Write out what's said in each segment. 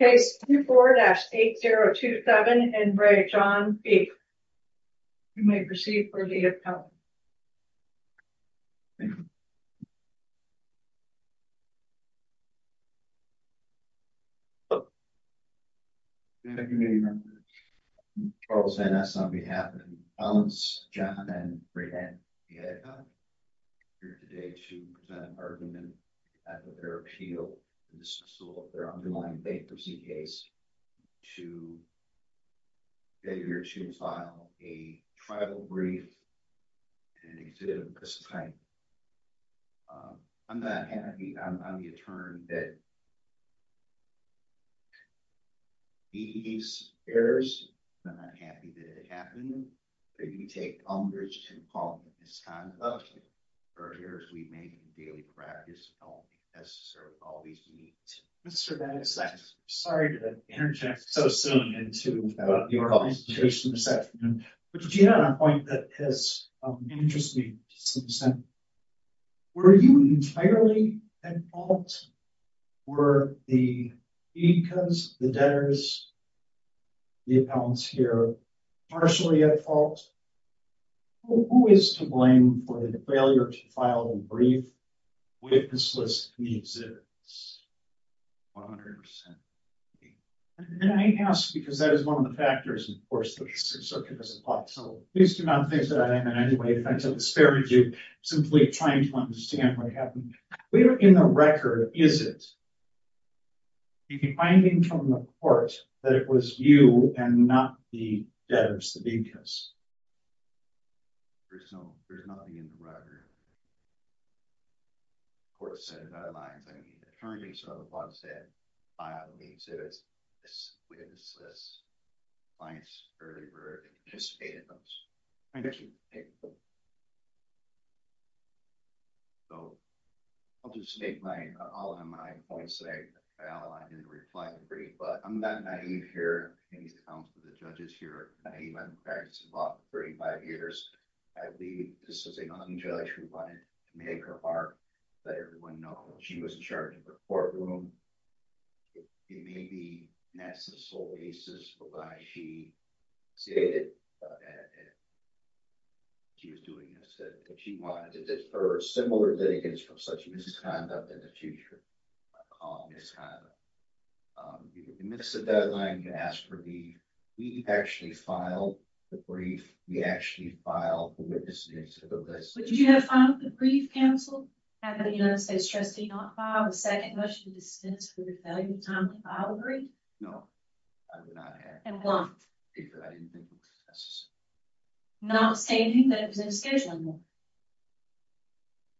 You may proceed for the appellant. Charles N.S. on behalf of the appellants John and Brianne Biedka here today to present an appeal to the school of their underlying faith of CPAs to get here to file a tribal brief and exhibit of this kind. I'm not happy. I'm on the attorney that these errors, I'm not happy that it happened, that you take on this kind of behavior as we may in daily practice know as to serve all these needs. Mr. Biedka, I'm sorry to interject so soon into your presentation, but to get on a point that has interested me to some extent, were you entirely at fault? Were the Biedkas, the debtors, the appellants here, partially at fault? Who is to blame for the failure to file a brief with this list of the exhibits? One hundred percent. And I ask because that is one of the factors, of course, that we should circumvent the plot. So please do not think that I am in any way trying to disparage you, simply trying to understand what happened. We are in the record, is it? Are you finding from the court that it was you and not the debtors, the Biedkas? There's no, there's not in the record. The court said that it might have been the attorney, so the plot said file the exhibits within this list. The clients earlier participated in those. Thank you. Okay. So, I'll just make my, all of my points that I outlined in the reply brief, but I'm not naive here. I think it's down to the judges here. I'm naive. I've been practicing law for 35 years. I believe this is a young judge who wanted to make her mark, let everyone know she was in charge of the courtroom. It may be a necessary basis for why she stated that she was doing this, but she wanted to disperse similar litigants from such misconduct in the future. I call it misconduct. You can miss a deadline, you can ask for a brief. We actually filed the brief. We actually filed the witnesses of this. But did you have to file the brief, counsel? Have the United States trustee not filed a second motion to dispense with the value of time to file a brief? No. I did not have to. And why? Because I didn't think it was necessary. Not stating that it was inschedulable?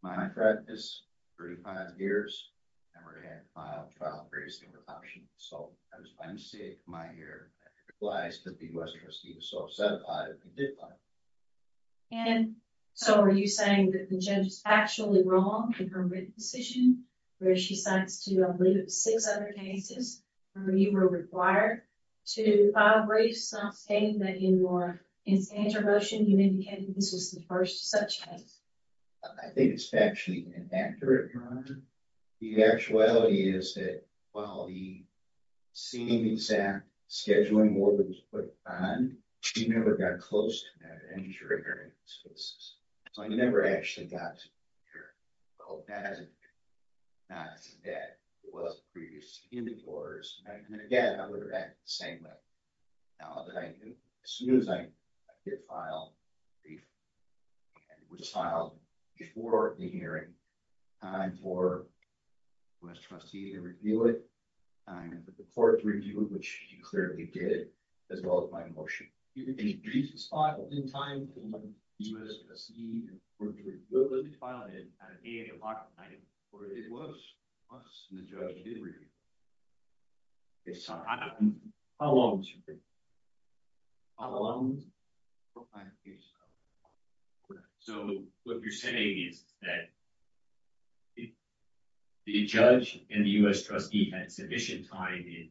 My practice for 35 years, I've never had to file a brief with an option. So, I was planning to see it in my ear. It implies that the U.S. trustee was so upset about it that she did file it. And so, are you saying that the judge is actually wrong in her written decision where she signs to, I believe, six other cases where you were required to file a brief, not stating that in your intervention, you indicated that this was the first such case? I think it's factually inaccurate, Your Honor. The actuality is that while the seemingly exact scheduling order was put behind, she never got close to that injury. So, I never actually got to the injury. I hope that isn't true. Not as bad as the previous individuals. And again, I would have acted the same way. Now, as soon as I did file a brief, and it was filed before the hearing, time for the U.S. trustee to review it, the court to review it, which she clearly did, as well as my motion to increase the spot in time for the U.S. trustee to review it. Well, let me file it at 8 o'clock at night. Well, it was. It was. And the judge did review it. Okay. Sorry. How long was your brief? How long? What kind of case was that? Go ahead. So, what you're saying is that the judge and the U.S. trustee had sufficient time in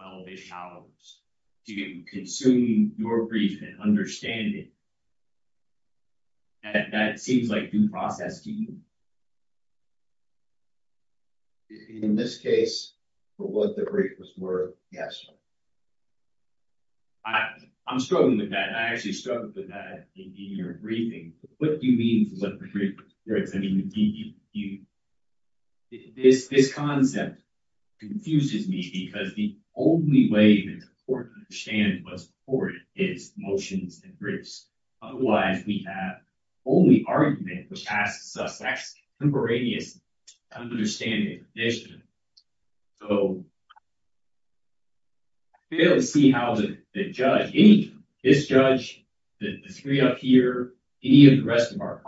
12-ish hours to consume your brief and understand it. That seems like due process to you. In this case, for what the brief was worth, yes. I'm struggling with that. I actually struggled with that in your briefing. What do you mean for what the brief was worth? I mean, this concept confuses me because the only way that the court can understand what's before it is motions and briefs. Otherwise, we have only argument, which asks us to have a contemporaneous understanding of the condition. So, I fail to see how the judge, this judge, the three up here, any of the rest of our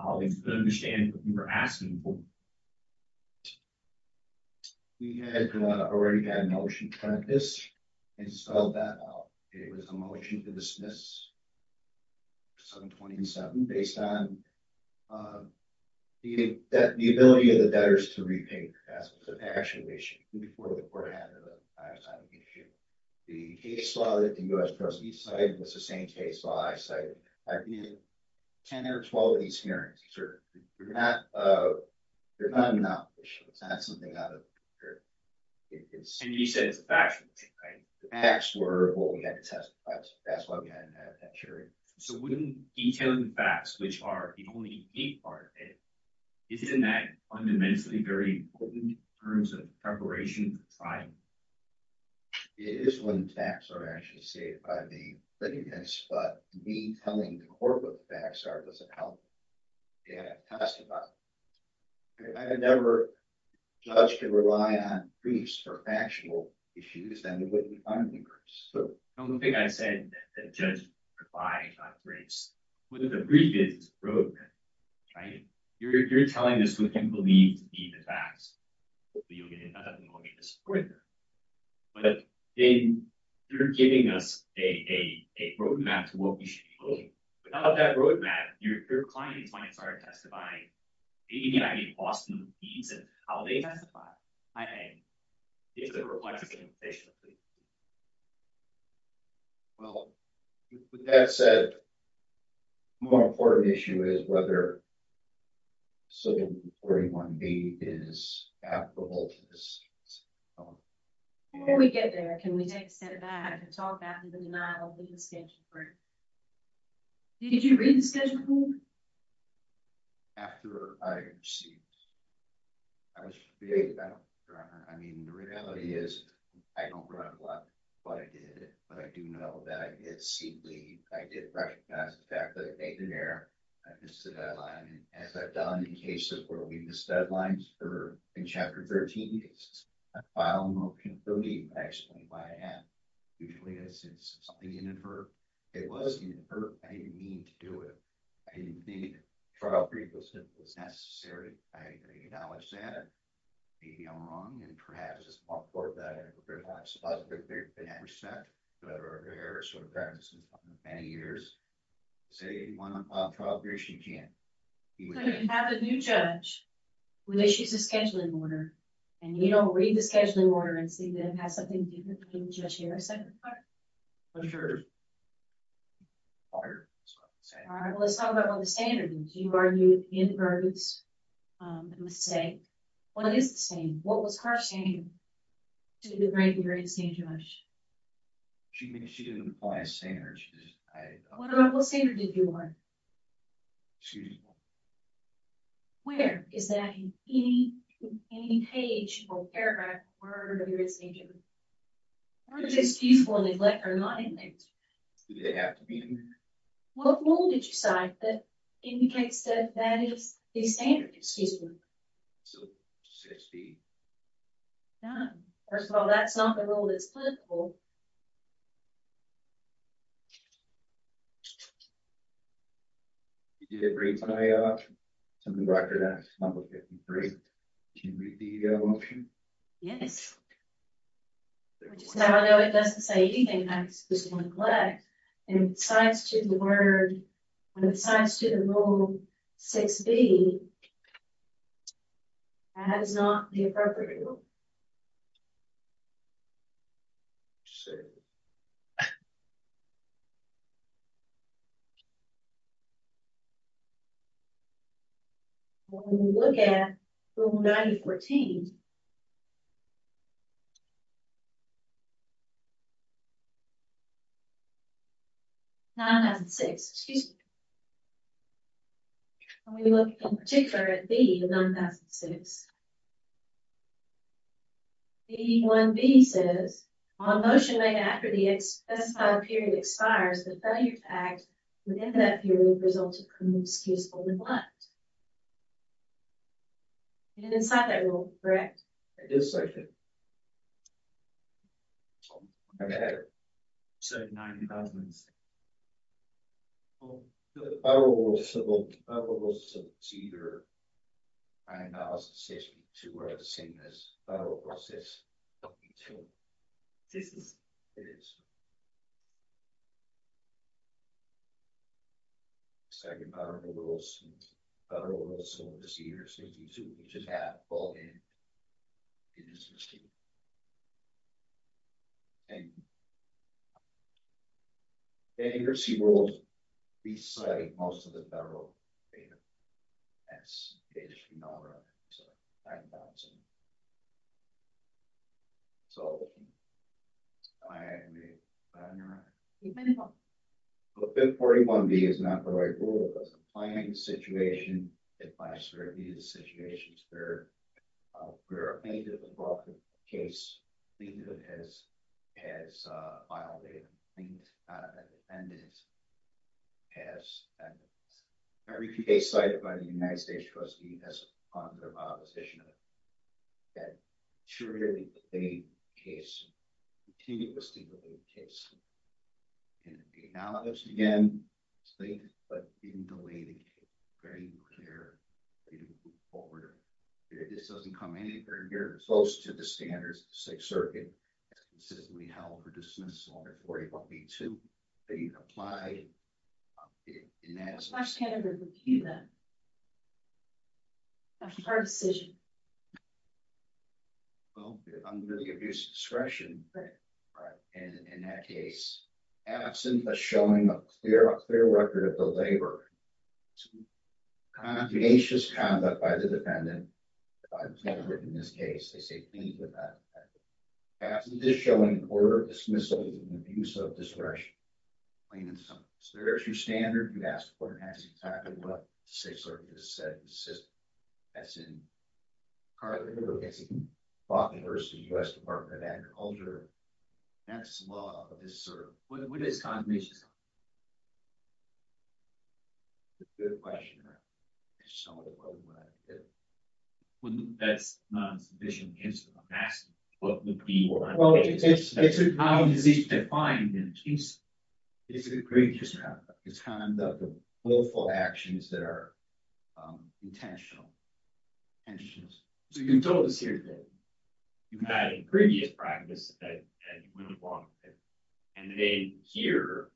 We had already had a motion to cut this and sell that out. It was a motion to dismiss 727 based on the ability of the debtors to repay as an action issue before the court had a lifetime issue. The case law that the U.S. trustee cited was the same case law I cited. I've needed 10 or 12 of these hearings. They're not an option. It's not something out of the picture. And you said it's a factual thing, right? The facts were what we had to testify to. That's why we had to have that hearing. So, wouldn't detailing the facts, which are the only neat part of it, isn't that fundamentally very important in terms of preparation for trial? It is when facts are actually stated by the litigants, but me telling the court what the facts are doesn't help testify. I've never judged or relied on briefs for factual issues, and it wouldn't fund the briefs. The only thing I said that the judge replied about briefs was that the brief is broken, right? You're telling us what you believe to be the facts. Hopefully you'll get enough and we'll get to support that. But they're giving us a roadmap to what we should be doing. Without that roadmap, your clients might start testifying. I mean, Boston needs it. How will they testify? I mean, if they're reflective, they should. Well, with that said, the more important issue is whether 741B is applicable to this case. Before we get there, can we take a step back and talk about the denial of the rescheduled brief? Did you read the scheduled brief? After I received it. The reality is, I don't remember what I did, but I do know that I did see bleed. I did recognize the fact that I made an error. I missed a deadline. As I've done in cases where we miss deadlines, or in Chapter 13 cases, a file won't confirm me. I explain why I am. Usually I said something didn't occur. It was inferred. I didn't mean to do it. I didn't mean it. A trial brief is necessary. I acknowledge that. Maybe I'm wrong, and perhaps it's my fault that I didn't prepare that. It's a positive thing. I have respect for her. Her parents have been with her for many years. To say you want to file a trial brief, you can't. You have a new judge who issues a scheduling order, and you don't read the scheduling order and see if it has something to do with the new judge. Did I say that correctly? For sure. Let's talk about what the standard is. You argued in the verdicts, a mistake. What is the standard? What was her standard? She didn't apply a standard. What standard did you want? Excuse me? Where? Is that in any page or paragraph? The word is excusable and neglect are not in there. Do they have to be in there? What rule did you cite that indicates that that is the standard? Excuse me? 60. No. First of all, that's not the rule that's applicable. Did it read my option? Can you read the option? Yes. Although it doesn't say anything, I just want to collect. When it cites the word, when it cites the rule 6B, that is not the appropriate rule. When we look at Rule 9014, 9006, excuse me, when we look in particular at B of 9006, B1B says, on motion made after the specified period expires, the failure to act within that period will result in an excusable neglect. You didn't cite that rule, correct? Yes, I did. I had it. So 9006. The Federal Rules of Procedure 90062 are the same as the Federal Rules of Procedure 90062. This is? It is. Second Federal Rules of Procedure 90062, which is half, fall in. It is the same. Thank you. The emergency rules recite most of the Federal data. That's data from NARA. So, I'm bouncing. 541B is not the right rule. It doesn't apply in any situation. It applies to every situation. There are many different cases. Every case cited by the United States Trustee has a positive opposition to it. The analogous, again, I think, but didn't know anything. Very unclear. It doesn't come anywhere near close to the standards of the Sixth Circuit. That's consistently held for dismissal. 541B, too, being applied. I can't agree with you then. That's a hard decision. Well, under the abuse of discretion, in that case, absent of showing a clear record of the labor, tenacious conduct by the defendant, absent of showing order of dismissal and abuse of discretion, there is your standard. You ask what has been tackled by the Sixth Circuit. It says, as in Carly Hill, as in Faulkner v. U.S. Department of Agriculture, that this law is served. What is condemnation? It's a good question. That's not a sufficient answer. I'm asking what would be or not be. Well, it's how is this defined in the case. It's kind of the willful actions that are intentional. So you can tell us here today, you had in previous practice that you wouldn't want it. And then here,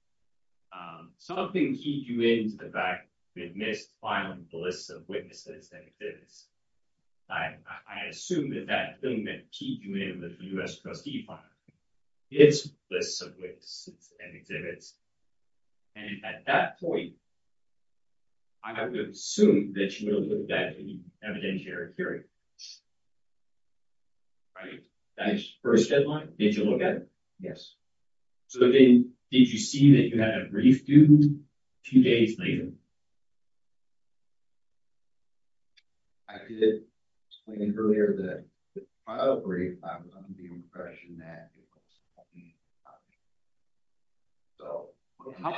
something keeps you in to the fact we've missed filing the list of witnesses and exhibits. I assume that that thing that keeps you in that the U.S. trustee filed, it's lists of witnesses and exhibits. And at that point, I would assume that you will look at that in evidentiary period. Right. That's first deadline. Did you look at it? Yes. So then, did you see that you had a brief due two days later? I did explain earlier that the file brief, I was under the impression that it was not being filed. So, how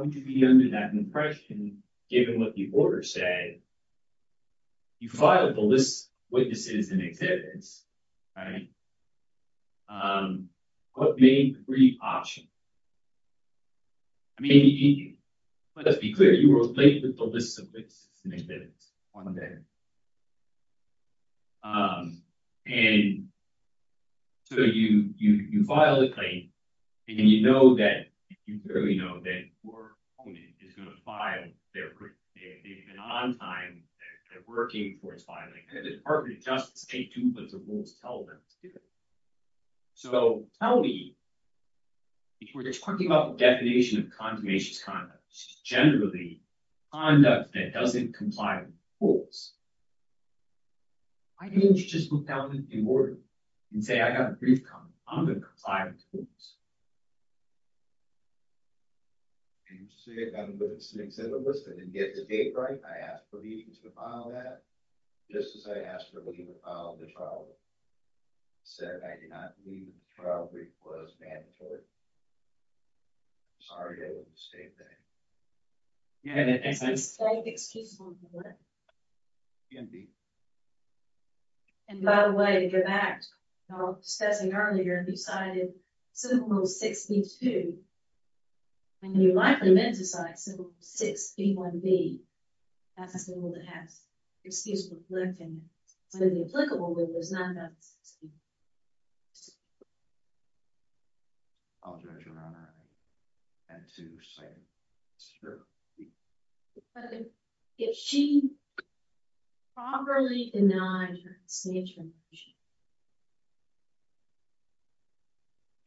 would you be under that impression given what the order said you filed the list of witnesses and exhibits. What made the brief option? I mean, let's be clear, you were plagued with the list of witnesses and exhibits on that. And so you file a claim and you know that you clearly know that your opponent is going to file their brief. They've been on time. They're working for it's filing. The Department of Justice can't do what the rules tell them to do. So, tell me, before you're talking about the definition of condemnation conduct, generally, conduct that doesn't comply with the rules. Why didn't you just look down in the order and say, I have a brief comment. I'm going to comply with the rules. You see, I'm going to stick to the list. I didn't get the date right. I asked for these to file that. Just as I asked for you to file the trial brief. I said I did not believe the trial brief was mandatory. Sorry, I made a mistake there. You had an excusable mistake. Indeed. And by the way, you're back discussing earlier, you cited Simple Rule 62. And you likely meant to cite Simple Rule 61B. That's a simple rule that has excusable conflicting. It's only applicable when it's not done. I'll judge your honor and to say it's true. If she properly denied her dismissal,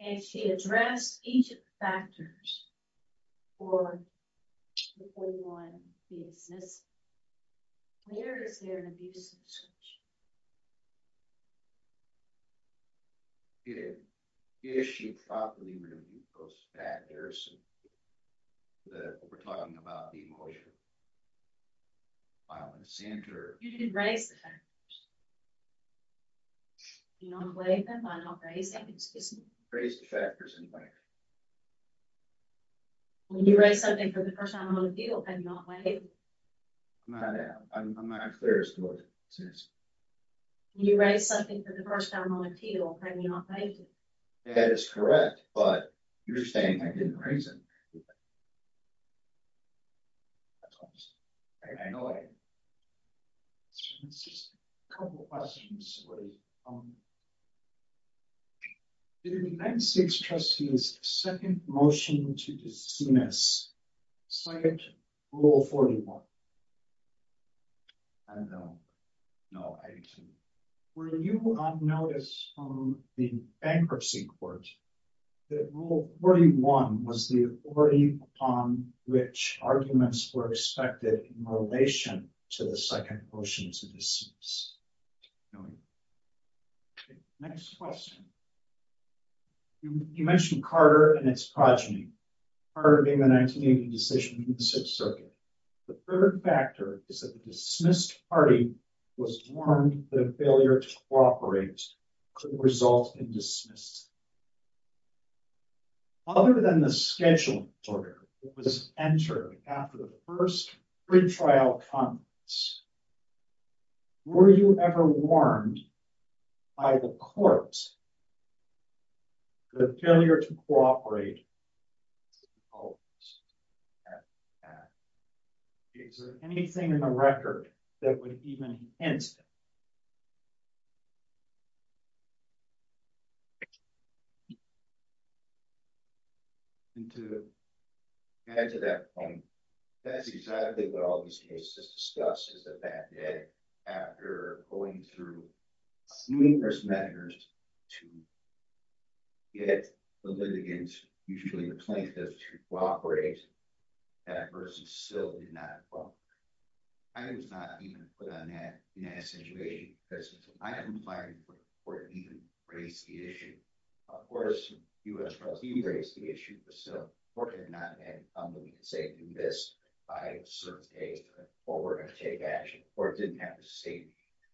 and she addressed each of the factors for the 41 dismissal, where is there an abuse of discretion? It is. If she properly removed those factors that we're talking about, the emotional violence center. You didn't raise the factors. You don't blame them. Raise the factors. You raised something for the first time on appeal. I'm not clear as to what it says. You raised something for the first time on appeal. That is correct. But you're saying I didn't raise it. I know. A couple of questions. Did the 96 trustee's second motion to dismiss cite Rule 41? I don't know. No, I didn't see it. Were you on notice from the bankruptcy court that Rule 41 was the authority upon which arguments were expected in relation to the second motion to dismiss? Next question. You mentioned Carter and its progeny. Carter made the decision in the sixth circuit. The third factor is that the dismissed party was warned that a failure to cooperate could result in dismissal. Other than the schedule order that was entered after the first trial comments, were you ever warned by the courts the failure to cooperate? Is there anything in the record that would even hint at that? To add to that point, that's exactly what all this news has discussed is the fact that after going through numerous measures to get the litigants, usually the plaintiffs, to cooperate, that adversity still did not evolve. I was not even put in that situation because I hadn't fired the court and he didn't raise the issue. Of course, U.S. trustees raised the issue, but still, fortunately, I had somebody to say, do this. I served a forward and take action. The court didn't have to say,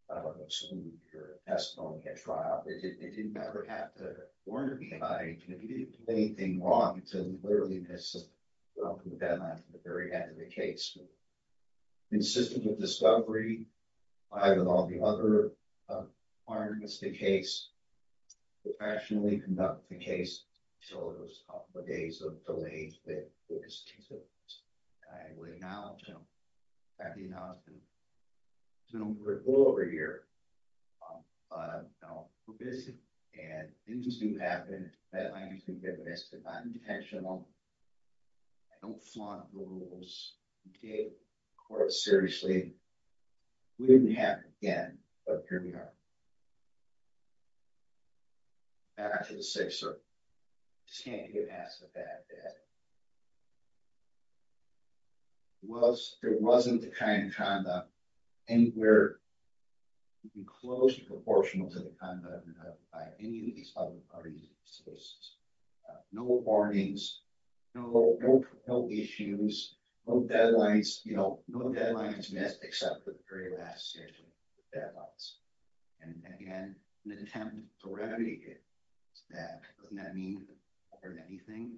I'm assuming your testimony at trial. It didn't ever have to warn me about anything. He didn't do anything wrong. He said, we clearly missed the deadline for the very end of the case. Consistent with discovery, I, with all the other partners, the case, professionally conducted the case until it was a couple of days of delays I would acknowledge him. I would acknowledge him. We're a little over a year. We're busy. And things do happen. I understand that, but it's not intentional. I don't flaunt the rules. We gave the court seriously. We didn't have, again, a pyramid. After the Sixth Circuit, I just can't get past the fact that it wasn't the kind of conduct anywhere close to proportional to the kind of conduct by any of these other parties. So there's no warnings, no issues, no deadlines, no deadlines missed except for the very last six deadlines. And again, the attempt to remedy it doesn't mean that we've learned anything.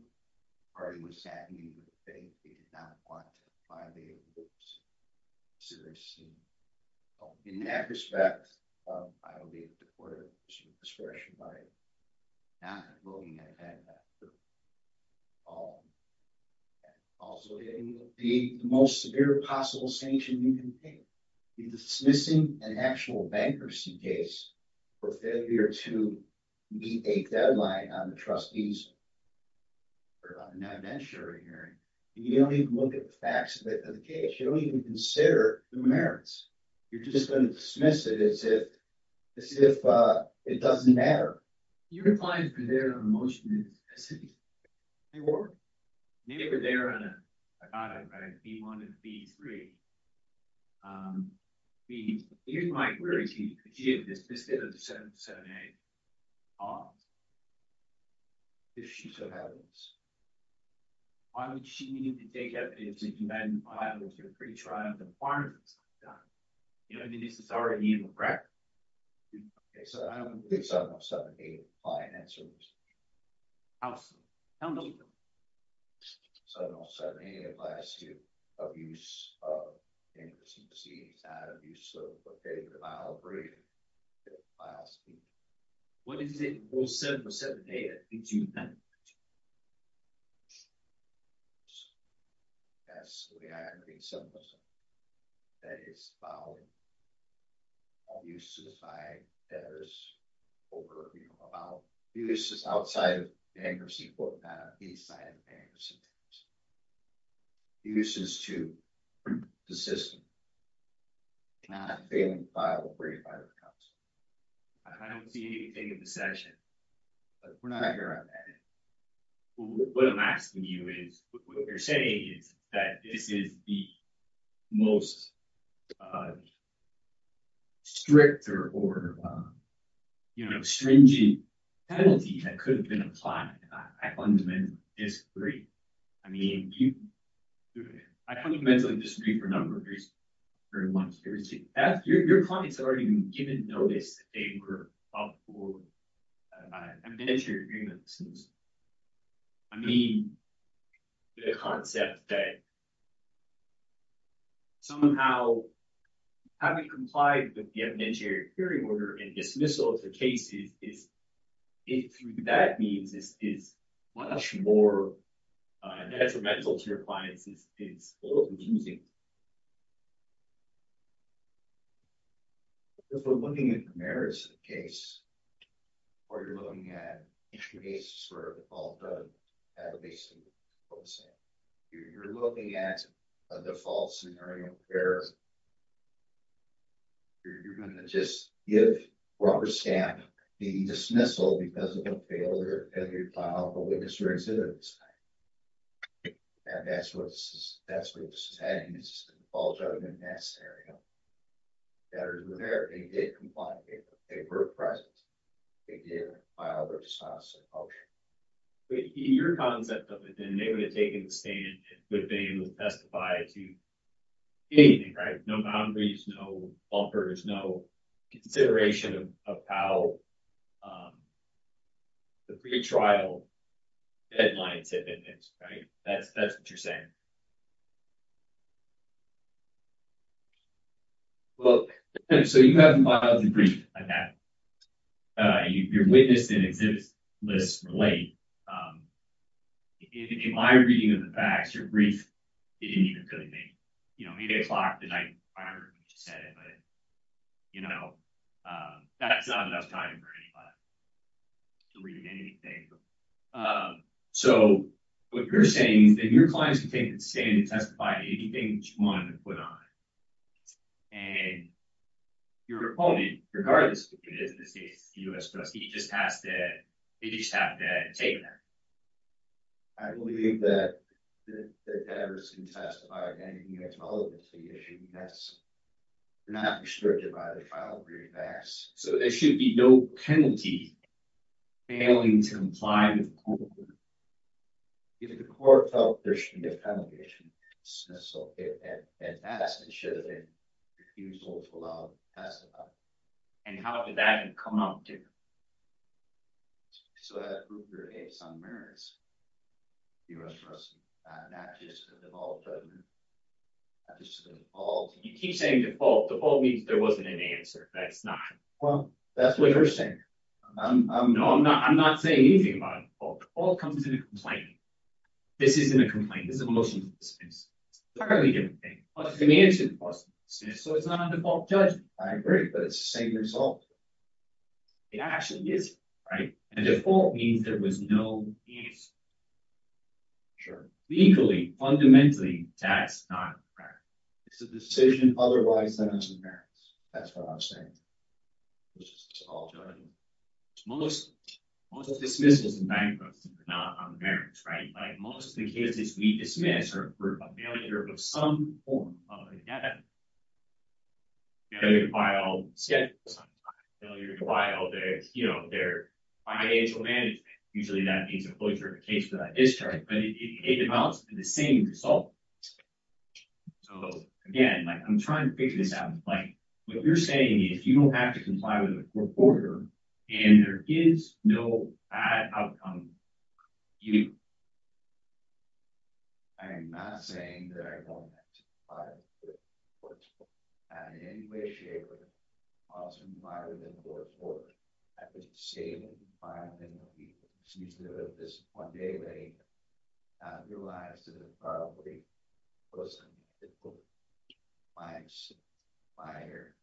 The party was saddened. They did not want to violate the rules. In that respect, I will be able to order discretion by not voting at that time. Also, the most severe possible sanction we can take is dismissing an actual bankruptcy case for failure to meet a deadline on the trustee's non-adventure hearing. You don't even look at the facts of the case. You don't even consider the merits. You're just going to dismiss it as if it doesn't matter. You're applying for their motion as if they weren't. Maybe if they were on a, I thought I'd write B1 and B3. Here's my query to you. If she had dismissed it as a 707A, if she so happens, why would she need to take evidence that you had filed with your three tribes and partners? I mean, this is already in the practice. Okay, so I don't believe 707A fine answers. How so? Tell me a little bit. 707A applies to abuse of agency, not abuse of what they would allow for you to file a suit. What is it, well, 707A, that gives you that much? That's, I think, 707A. That is about abuses by debtors over abuse. Abuses outside of bankruptcy but not outside of bankruptcy. Abuses to the system, not failing to file where you filed the cuts. I don't see anything in the session, but we're not here on that. What I'm asking you is, what you're saying is that this is the most strict or, you know, stringent penalty that could have been applied. I fundamentally disagree. I mean, you, I fundamentally disagree for a number of reasons. Very much. Your clients have already been given notice that they were up for evidentiary hearing of dismissal. I mean, the concept that somehow having complied with the evidentiary hearing order and dismissal of the case is, through that means, is much more detrimental to your clients. It's a little confusing. If we're looking at the merits of the case or you're looking at extra cases for default that would basically be the same. You're looking at a default scenario where you're going to just give rubber stamp the dismissal because of a failure as you file the witness or exhibitant statement. And that's what this is, that's what this is adding. This is the default judgment in that scenario. They did comply. They were present. They did file their response and motion. Your concept of it, they would have taken the stand and would have been able to testify to anything, right? No boundaries, no offers, no consideration of how the pre-trial deadlines have been. Right? That's what you're saying. Well, so you have to file the brief like that. You're witness and exhibit list late. In my reading of the facts, your brief didn't even come in late. You know, that's not enough time for anybody to read anything. So what you're saying is that your clients can take the stand and testify to anything that you want them to put on it. And your opponent, regardless of who it is in this case, the U.S. Justice, he just has to, they just have to take that. I believe that the evidence can testify to anything that's relevant to the issue. You're not restricted by the trial brief facts. So there should be no penalty failing to comply with the court ruling. If the court felt there should be a penalty, it should be dismissal. If it passed, it should have been excusable to allow them to testify. And how did that come up, did it? So that proved there may be some merits. The U.S. Justice, not just the default judgment, that was just a default. You keep saying default. Default means there wasn't an answer. That it's not. Well, that's what you're saying. No, I'm not saying anything about a default. Default comes in a complaint. This isn't a complaint. This is a motion to dismiss. It's entirely different thing. But it's an answer to the question. So it's not a default judgment. I agree, but it's the same result. It actually is, right? And default means there was no answer. Sure. Legally, fundamentally, that's not a merit. It's a decision otherwise set out in the merits. That's what I'm saying. It's all judgment. Most dismissals and bankruptcy are not on the merits, right? Most of the cases we dismiss are for a failure of some form of a debt. Failure to file schedules. Failure to file their financial management. Usually that means a closure of a case without discharge. But it amounts to the same result. So, again, I'm trying to figure this out. What you're saying is you don't have to comply with a court order and there is no bad outcome either. I am not saying that I don't have to comply with a court order. I'm not in any way, shape, or form to comply with a court order. I just say that I don't have to comply with a court order. One day, I realized that it probably wasn't difficult. My wife's, my, or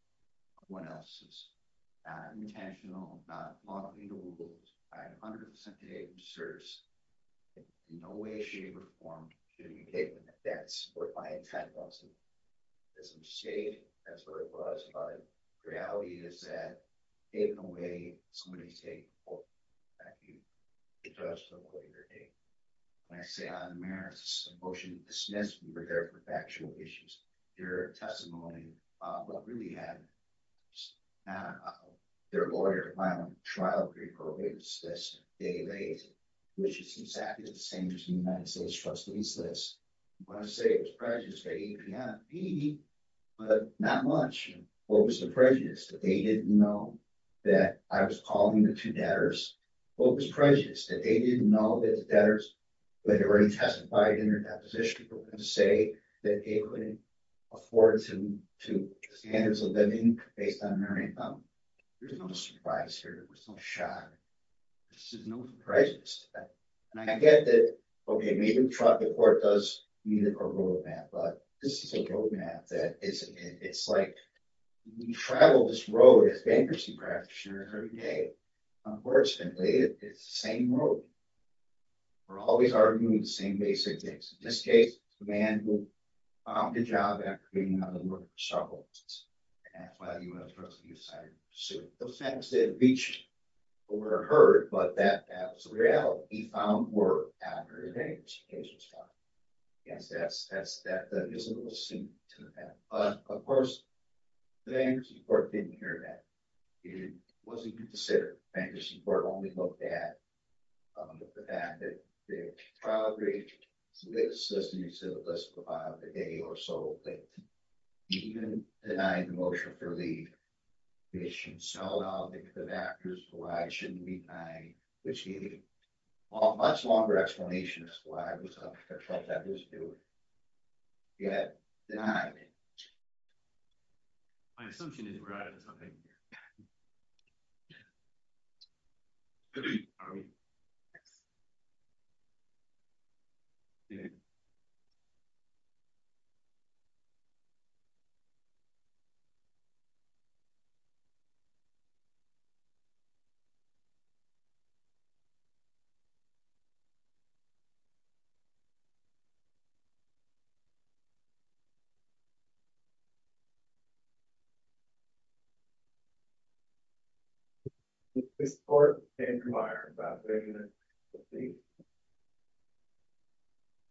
someone else's intentional non-legal rules. I 100% agree with SERS. In no way, shape, or form should it be taken. That's what my intent was. It's insane. That's what it was. But the reality is that taken away is what it's taken for. I think the judge took away the take. When I say I'm embarrassed, this is a motion dismissed in regard to factual issues. There are testimonies of what really happened. Now, their lawyer filed a trial for reprobate. It was dismissed. They erased it. Which is exactly the same as the United States Trustees List. You want to say it was prejudiced by APNP, but not much. What was the prejudice? That they didn't know that I was calling the two debtors? What was the prejudice? That they didn't know that the debtors who had already testified in their deposition were going to say that they couldn't afford to the standards of living based on their income. There's no surprise here. There's no shock. There's no prejudice. And I get that, okay, maybe the trial court does need a roadmap, but this is a roadmap that it's like we travel this road with a bankruptcy practitioner every day. Unfortunately, it's the same road. We're always arguing the same basic things. In this case, the man who found a job after being out of work struggled. That's why the U.S. Trustees decided to sue him. The facts they had reached were heard, but that that was the reality. He found work after his age. His age was five. I guess that's the visible sink to the pan. But, of course, the bankruptcy court didn't hear that. It wasn't considered. The bankruptcy court only looked at the fact that they probably solicited a list of about a day or so that he even denied the motion for leave. It should sell out the factors why it shouldn't be denied, which gave a much longer explanation as to why it was up because that's what that was doing. He had denied it. My assumption is that we're out of time.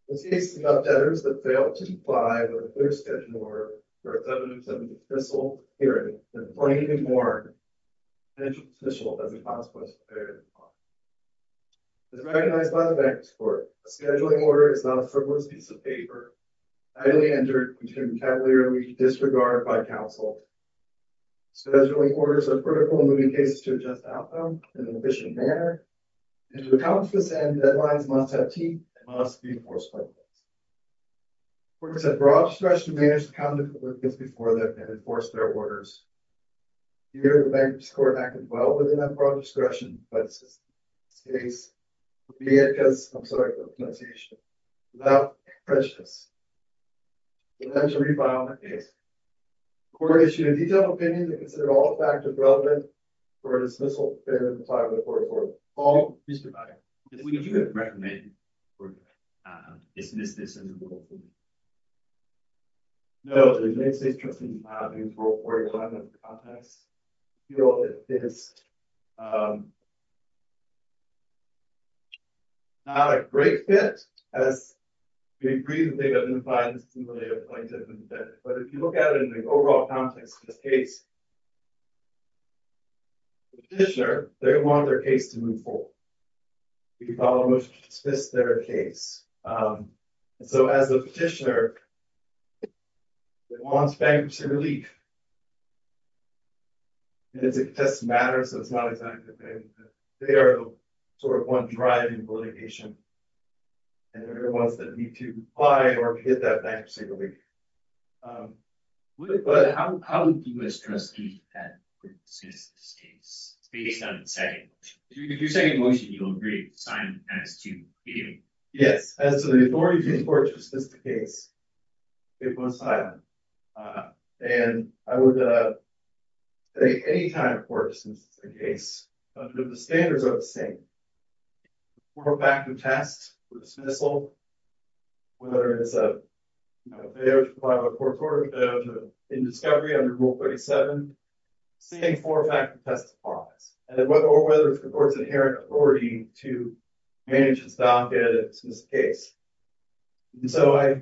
We'll see some updates that failed to comply with a clear scheduled order for evidence of an official hearing and plainly warned an official as a consequence of failure to comply. As recognized by the bankruptcy court, a scheduling order is not a frivolous piece of paper entirely entered into a vocabulary we disregard by counsel. Scheduling orders are critical in moving cases to a just outcome in an efficient manner and to accomplish this end, deadlines must have teeth and must be enforced by the courts. Courts have broad discretion to manage the conduct of applicants before them and enforce their orders. Here, the bankruptcy court acted well within that broad discretion by the system. In this case, it would be it because, I'm sorry for the pronunciation, without prejudice, we'll have to re-file that case. The court issued a detailed opinion that considered all the factors relevant for a dismissal failure to comply with a court order. Paul, please provide. Would you recommend we dismiss this and move on from here? No, the United States trustee filed a new court requirement that the context feel that this is not a great fit as we agree that they have been fined as a simulated plaintiff and defendant. But if you look at it in the overall context of this case, the petitioner, they want their case to move forward. We could almost dismiss their case. So, as the petitioner, they want bankruptcy relief and it just matters that they are the one driving the litigation and they're the ones that need to comply or get that bankruptcy relief. But how would you as trustee that would dismiss this case based on the second motion? If you're saying a motion, you'll agree to sign as to the hearing. Yes, as to the authority of the court to dismiss the case, it was silent. And I would say any time a court dismisses a case, the standards are the same. Four-factor test for dismissal, whether it's a bail to file a court order, bail to end discovery under Rule 37, same four-factor test applies. Or whether it's the court's inherent authority to manage and stop and dismiss the case. And so, I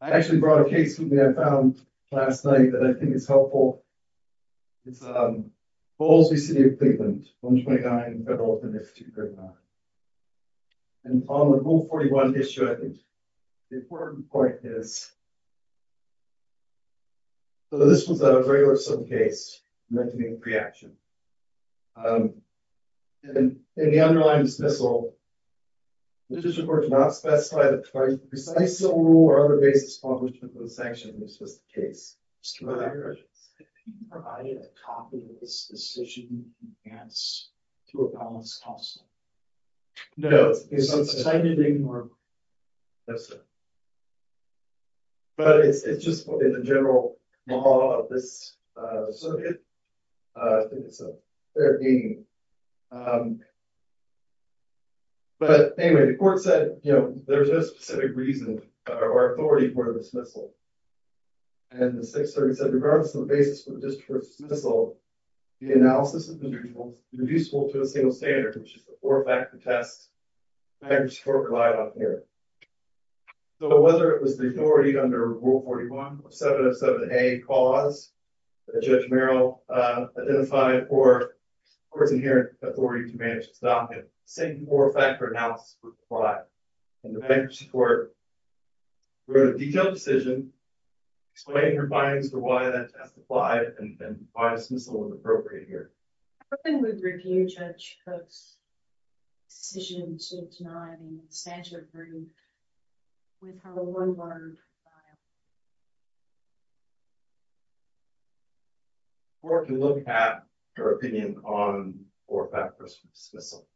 actually brought a case that I found last night that I think is helpful. It's Bowles v. City of Cleveland, 129 Federal Penis 239. And on the Rule 41 issue, I think the important point is, so this was a regular civil case meant to be a pre-action. And in the underlying dismissal, the district court did not specify that precise civil rule or other basis for the sanction was the case. Did you provide a copy of this decision in advance to Apollos-Tolstoy? No. Is it cited anymore? No, sir. But it's just in the general law of this circuit. I think it's a fair reading. But anyway, the court said, there's no specific reason or authority for dismissal. And the 630 said, regardless of the basis for the district court's dismissal, the analysis of the individual is irreducible to a single standard, which is the four-factor test the bankruptcy court relied on here. So whether it was the authority under Rule 41, 707A clause that Judge Merrill identified or its inherent authority to manage its docket, the same four-factor analysis would apply. And the bankruptcy court wrote a detailed decision explaining her findings for why that test applied and why dismissal was appropriate here. I don't think we've reviewed Judge Cook's decision to deny the stature of verdict with her one-word file. The court can look at her opinion on four-factor dismissal.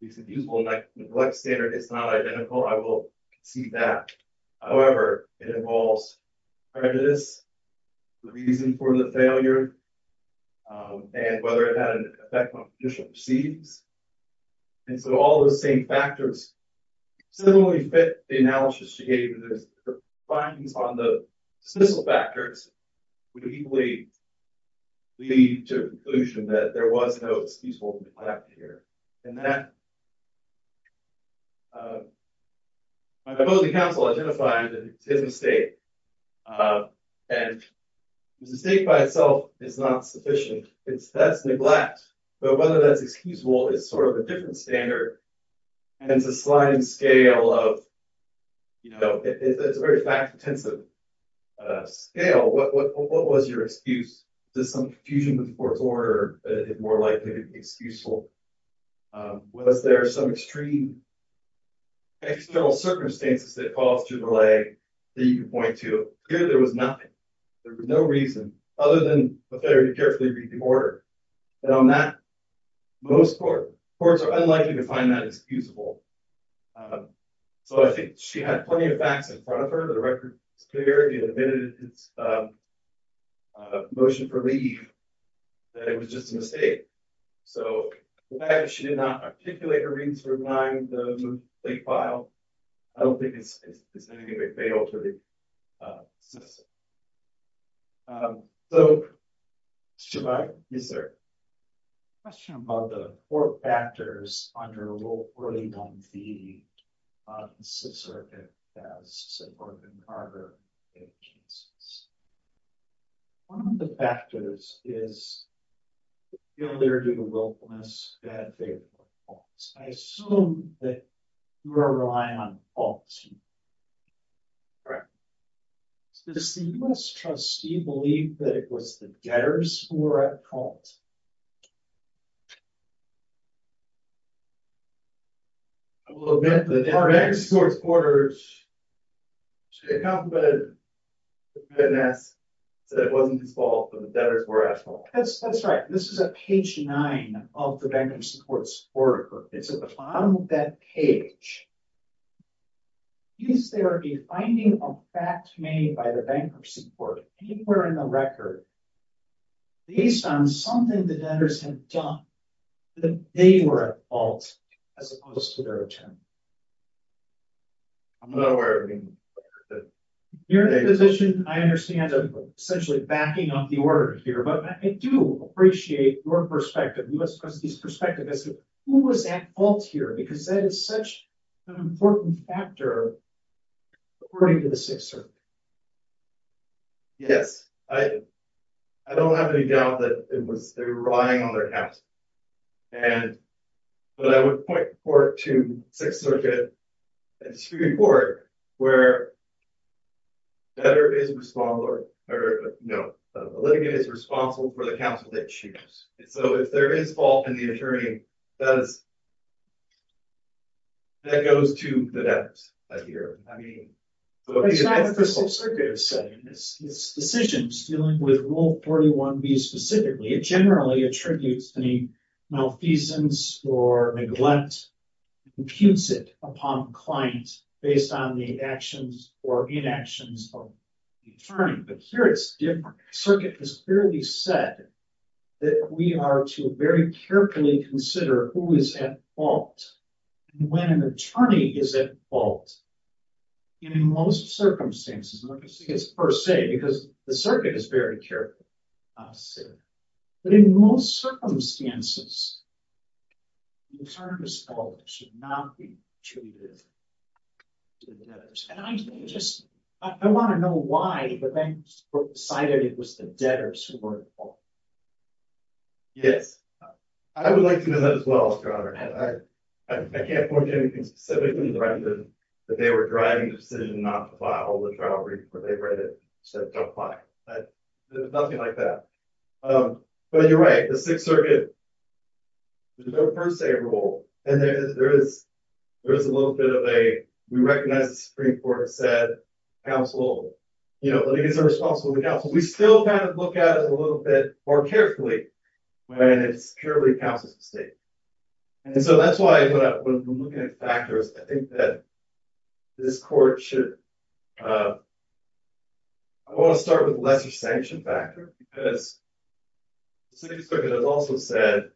It's a usable neglect standard. It's not identical. I will concede that. However, it involves prejudice, the reason for the failure, and whether it had an effect on judicial proceedings. And so all those same factors similarly fit the analysis she gave. The findings on the dismissal factors would equally lead to a conclusion that there was no usable neglect here. And that my voting counsel identified that it's his mistake. And the mistake by itself is not sufficient. That's neglect. But whether that's excusable is sort of a different standard and it's a sliding scale of, you know, it's a very fact-intensive scale. What was your excuse? Was there some confusion with the court's order that it more likely to be excusable? Was there some extreme external circumstances that caused your delay that you could point to? Clearly, there was nothing. There was no reason, other than the fact that you carefully read the order. And on that, most courts are unlikely to find that excusable. So I think she had plenty of facts in front of her. The record is clear. It admitted its motion for leave, that it was just a mistake. So the fact that she did not articulate her reasons for denying the leave file, I don't think it's anything that failed her to assess it. So should I? Is there a question about the four factors under Rule 41b of the sub-circuit as subordinate order agencies? One of the factors is the failure to do the willfulness that they proposed. I assume that you are relying on falsehood. Does the U.S. trustee believe that it was the debtors who were at fault? I will admit that the bankers support supporters should have complimented the witness and said it wasn't his fault but the debtors were at fault. That's right. This is at page 9 of the bankers support supporters report. It's at the bottom of that page. Is there a finding of fact made by the bankruptcy court anywhere in the record based on something the debtors have done that they were at fault as opposed to their attorney? You're in a position, I understand, of essentially backing up the order here but I do appreciate your perspective, the U.S. trustee's perspective who was at fault here because that is such an important factor according to the Sixth Circuit. Yes. I don't have any doubt that they were relying on their counsel but I would point to the Sixth Circuit and the Supreme Court where the litigant is responsible for the counsel they choose. So if there is fault and the attorney does, that goes to the debtors. The Sixth Circuit has said in its decisions dealing with Rule 41B specifically, it generally attributes any malfeasance or neglect and imputes it upon the client based on the actions or inactions of the attorney. But here it's different. The Circuit has clearly said that we are to very carefully consider who is at fault and when an attorney is at fault and in most circumstances, I'm not going to say it's per se because the Circuit is very careful how to say it, but in most circumstances the attorney at fault should not be treated to the debtors. And I just, I want to know why the banks decided it was the debtors who were at fault. Yes. I would like to know that as well, Your Honor. I can't point to anything specifically that they were driving the decision not to file the trial report. They read it and said don't file it. Nothing like that. But you're right. The Sixth Circuit, there's no per se rule. And there is a little bit of a, we recognize the Supreme Court said, litigants are responsible for the counsel. We still kind of look at it a little bit more carefully when it's purely a counsel's mistake. And so that's why when we're looking at factors, I think that this Court should, I want to start with the lesser sanction factor because the Sixth Circuit has also said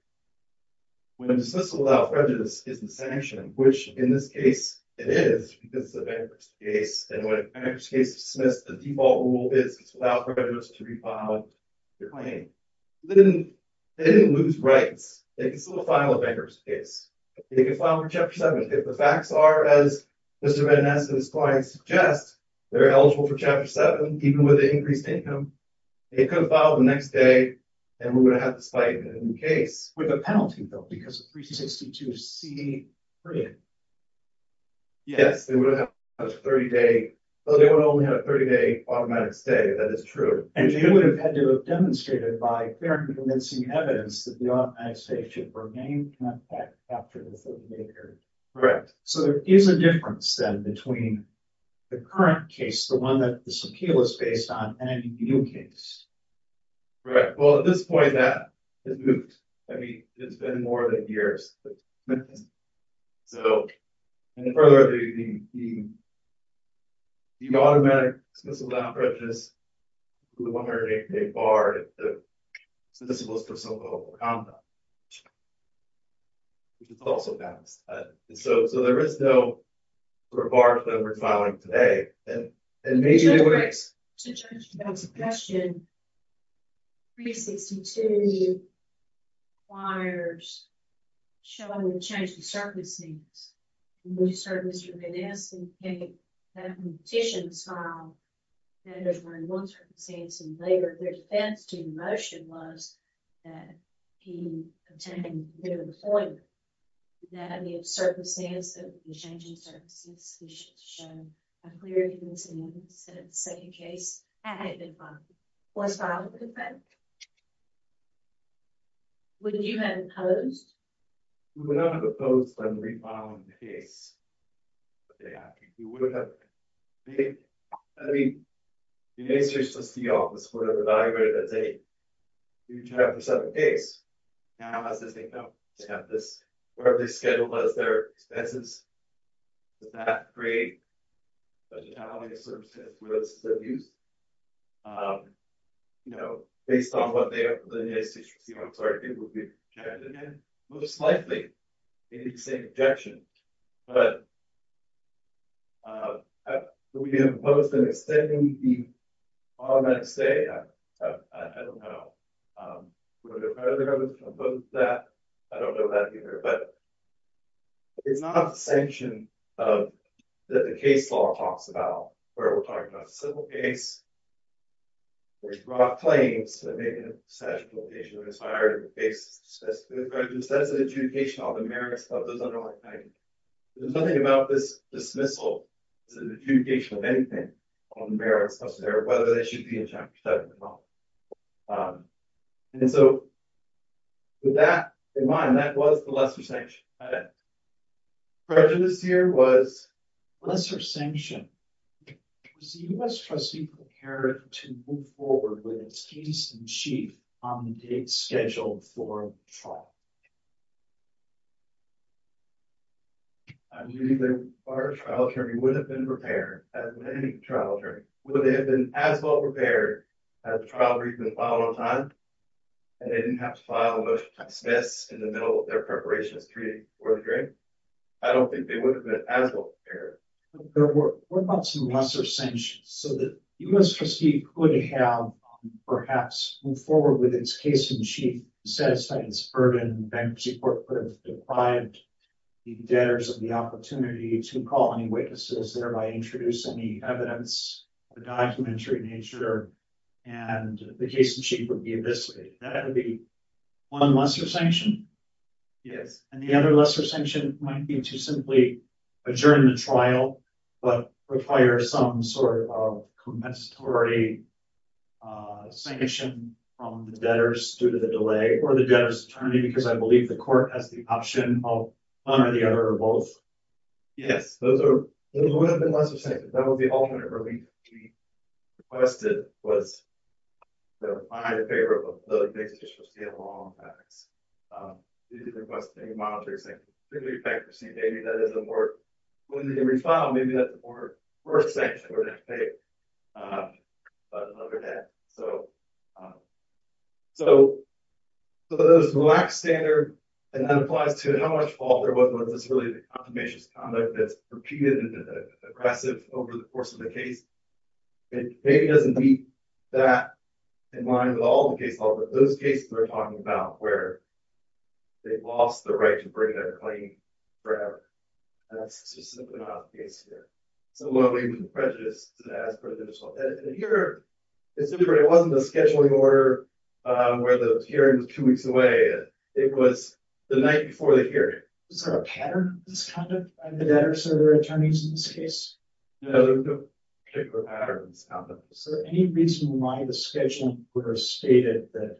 when dismissal without prejudice isn't sanctioned, which in this case it is because it's a bankers case and when a bankers case is dismissed, the default rule is it's without prejudice to refile your claim. They didn't lose rights. They could still file a bankers case. They could file for Chapter 7 if the facts are as Mr. Van Ness and his clients suggest, they're eligible for Chapter 7 even with an increased income. They could have filed the next day and we're going to have this fight in the case with a penalty though because of 362 C. Yes, they would have a 30-day, but they would only have a 30-day automatic stay. That is true. And they would have had to have demonstrated by fair and convincing evidence that the automatic stay should remain after the 30-day period. Correct. So there is a difference then between the current case, the one that this appeal is based on and a new case. Correct. Well, at this point, that has moved. I mean, it's been more than years. So, and then further, the automatic dismissal without prejudice to the 108-day bar is the discipline for civil conduct, which is also balanced. So there is no bar that we're filing today. And maybe it works. To judge the question, 362 requires showing the change of circumstances. When you start with Mr. Van Ness and you have petitions filed, and there's one circumstance in labor, their defense to the motion was that he obtained a new employment, that the circumstances, the changing circumstances, he should show a clear evidence that the second case had been filed, was filed with a bank. Would you have opposed? We would not have opposed by the re-filing of the case. We would have, I mean, the case is just the office would have evaluated it as a new trial for a second case. Now, as they come to have this, or have this scheduled as their expenses, does that create budgetary services for those sub-users? You know, based on what they have, I'm sorry, it would be most likely the same objection. But, would we have opposed extending the automatic stay? I don't know. Would we have opposed that? I don't know that either, but it's not a sanction that the case law talks about, where we're talking about a civil case, where you brought claims, that may be in a statute of limitations or expired on the basis of a specific prejudice. That is an adjudication on the merits of those underlying claims. There's nothing about this dismissal, this is an adjudication of anything on the merits, whether they should be in chapter 7 or not. And so, with that in mind, that was the lesser sanction. Prejudice here was lesser sanction. Was the U.S. trustee prepared to move forward with its case in chief on the date scheduled for trial? I believe our trial jury would have been prepared, as would any trial jury. Would they have been as well prepared as the trial jury's been filed on time? And they didn't have to file a motion to dismiss in the middle of their preparation for the hearing? I don't think they would have been as well prepared. What about some lesser sanctions, so that the U.S. trustee could have, perhaps, moved forward with its case in chief, satisfied its burden, bankruptcy court could have deprived the debtors of the opportunity to call any witnesses, thereby introducing the evidence, the documentary nature, and the case in chief would be eviscerated. That would be one lesser sanction? Yes. And the other lesser sanction might be to simply adjourn the trial, but require some sort of compensatory sanction from the debtors due to the delay, or the debtors' attorney, because I believe the court has the option of one or the other, or both. Yes. Those would have been lesser sanctions. That would be alternate. What we requested was to find a favorable basis for state law and facts. We didn't request any monetary sanctions. Maybe that is a more, when they re-file, maybe that's a more worse sanction, or less favorable. But other than that, so, so those lack standard, and that applies to how much fault there was that's really the confirmation of conduct that's repeated and aggressive over the course of the case. It maybe doesn't meet that in line with all the case law, but those cases we're talking about where they've lost the right to bring that claim forever. And that's just simply not the case here. So what we would prejudice as per the law. And here, it wasn't the scheduling order where the hearing was two weeks away. It was the night before the hearing. Is there a pattern in this conduct by the debtors or their attorneys in this case? No, there's no particular pattern in this conduct. Is there any reason why the scheduling would have stated that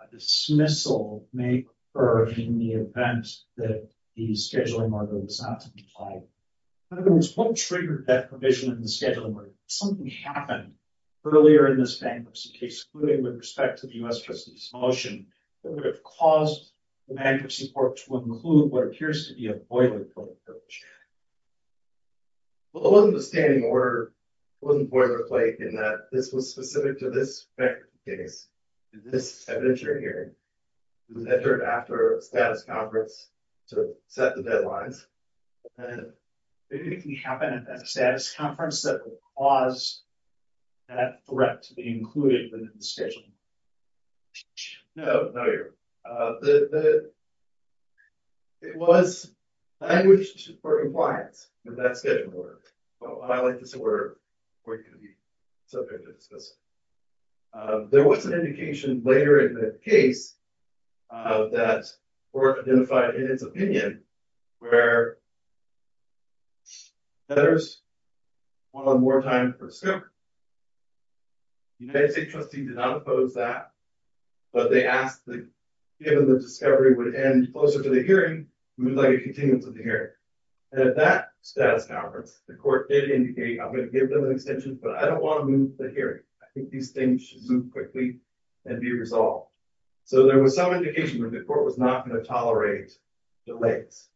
a dismissal may occur in the event that the scheduling order was not to be applied? In other words, what triggered that provision in the scheduling order? Did something happen earlier in this bankruptcy case, including with respect to the U.S. Justice motion, that would have caused the bankruptcy court to include what appears to be a boilerplate? Well, it wasn't a standing order. It wasn't boilerplate in that this was specific to this case, to this evidentiary hearing. It was entered after a status conference to set the deadlines. Did anything happen at that status conference that would cause that threat to be included within the scheduling? No. It was languished for compliance with that scheduling order. Well, I like to say we're going to be subject to dismissal. There was an indication later in the case that court identified in its opinion where letters were more time for scope. The United States trustee did not oppose that, but they asked that given the discovery would end closer to the hearing, we would like a continuance of the hearing. And at that status conference, the court did indicate, I'm going to give them an extension, but I don't want to move the hearing. I think these things should zoom quickly and be resolved. So there was some indication that the court was not going to tolerate delays.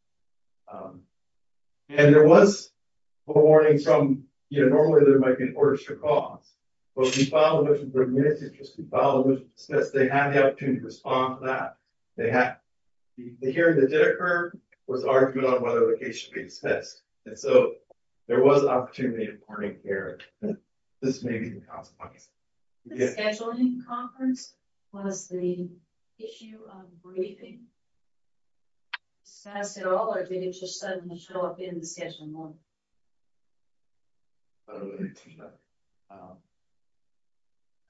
And there was warnings from, you know, normally there might be orders for cause, but we filed a motion for administrative, we filed a motion to dismiss, they had the opportunity to respond to that. The hearing that did occur was argued on whether the case should be dismissed. And so there was an opportunity of warning here that this may be a consequence. The scheduling conference was the issue of briefing. Status at all, or did it just suddenly show up in the scheduling lawyer? I don't know anything about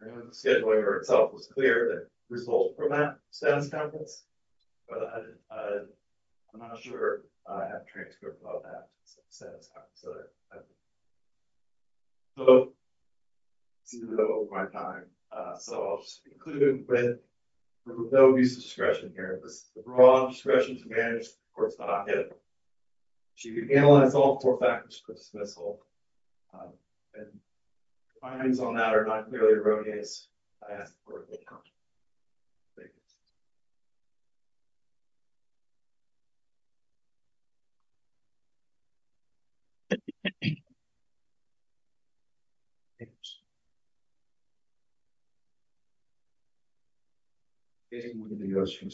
it. The scheduling lawyer itself was clear that the result from that status conference, but I'm not sure I have transcripts of all that. So, I seem to have over my time. So I'll just conclude with no use of discretion here. This is the broad discretion to manage the court's docket. She could analyze all four factors for dismissal. And findings on that are not clearly erroneous. I ask the court to count. Thank you. Thank you. Thank you. Thank you. The committee and several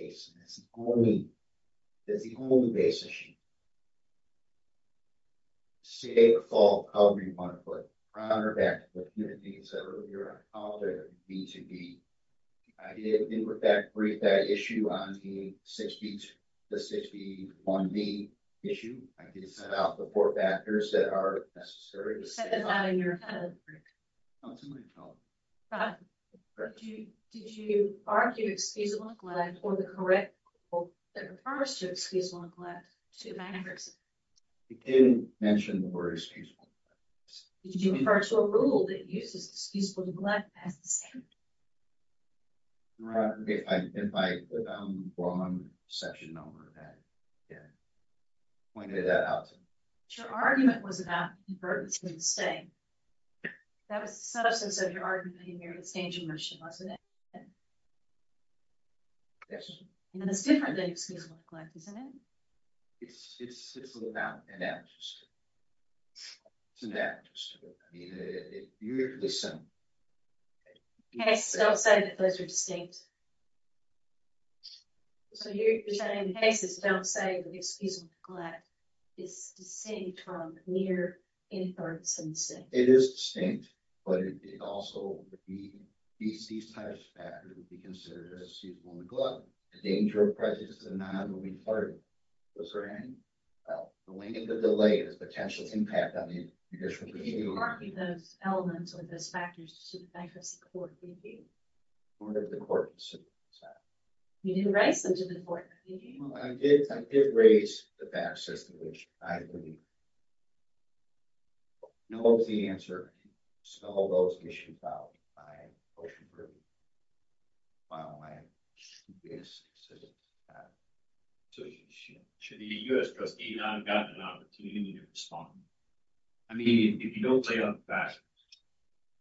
of you are called in on B2B. I did put back a brief on that issue on the 6B to 6B1B issue. I did set out the four factors that are necessary. Did you argue excusable neglect or the correct quote that refers to excusable neglect to the magnate? I didn't mention the word excusable neglect. Did you refer to a rule that uses excusable neglect as the standard? If I'm wrong, I'm going to section over that. Pointed that out to me. Your argument was about convergence of the same. That was the substance of your argument in your extension motion, wasn't it? Yes. And it's different than excusable neglect, isn't it? It's an amnesty. It's an amnesty. I mean, it's usually the same. Don't say that those are distinct. So you're saying the cases don't say excusable neglect. It's the same term, near inference and the same. It is distinct. But it also would be these types of factors would be considered as excusable neglect. The danger of prejudice is a non-moving part. The length of the delay has potential impact on the judicial procedure. Did you argue those elements or those factors to the effect of support for you? What did the court decide? You didn't raise them to the court. I did raise the fact system, which I believe knows the answer to all those issues. So should the U.S. trustee not have gotten an opportunity to respond? I mean, if you don't lay out the facts.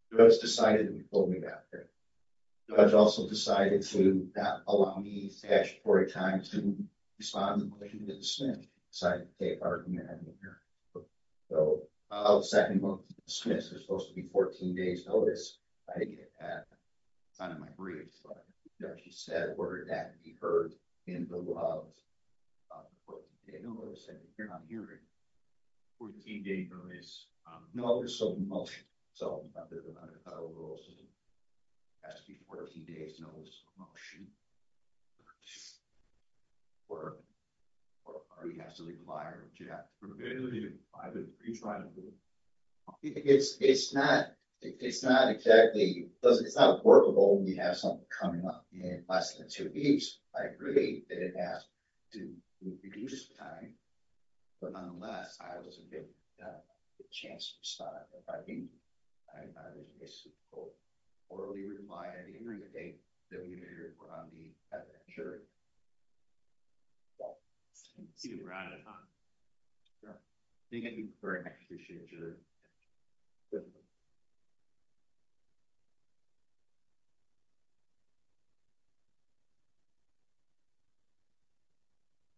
The judge decided to hold me back there. The judge also decided to not allow me statutory time to respond to the question that the Smith decided to take argument at the hearing. So the second one, the Smiths are supposed to be 14 days notice. I didn't get that. It's not in my briefs. But the judge said, were that to be heard in the love of the 14-day notice. And if you're not hearing 14-day notice of motion. So there's another federal rule system. It has to be 14 days notice of motion. Or do we have to require a judge? I've been retrying to do it. It's not exactly, it's not workable when you have something coming up in less than two weeks. I agree that it has to reduce time. But nonetheless, I wasn't given the chance to decide if I needed it. I'm not an issue. Or are we required at the end of the day that we need to report on the evidence? Well, I think we're out of time. Yeah. Thank you for an excellent jury. Thank you.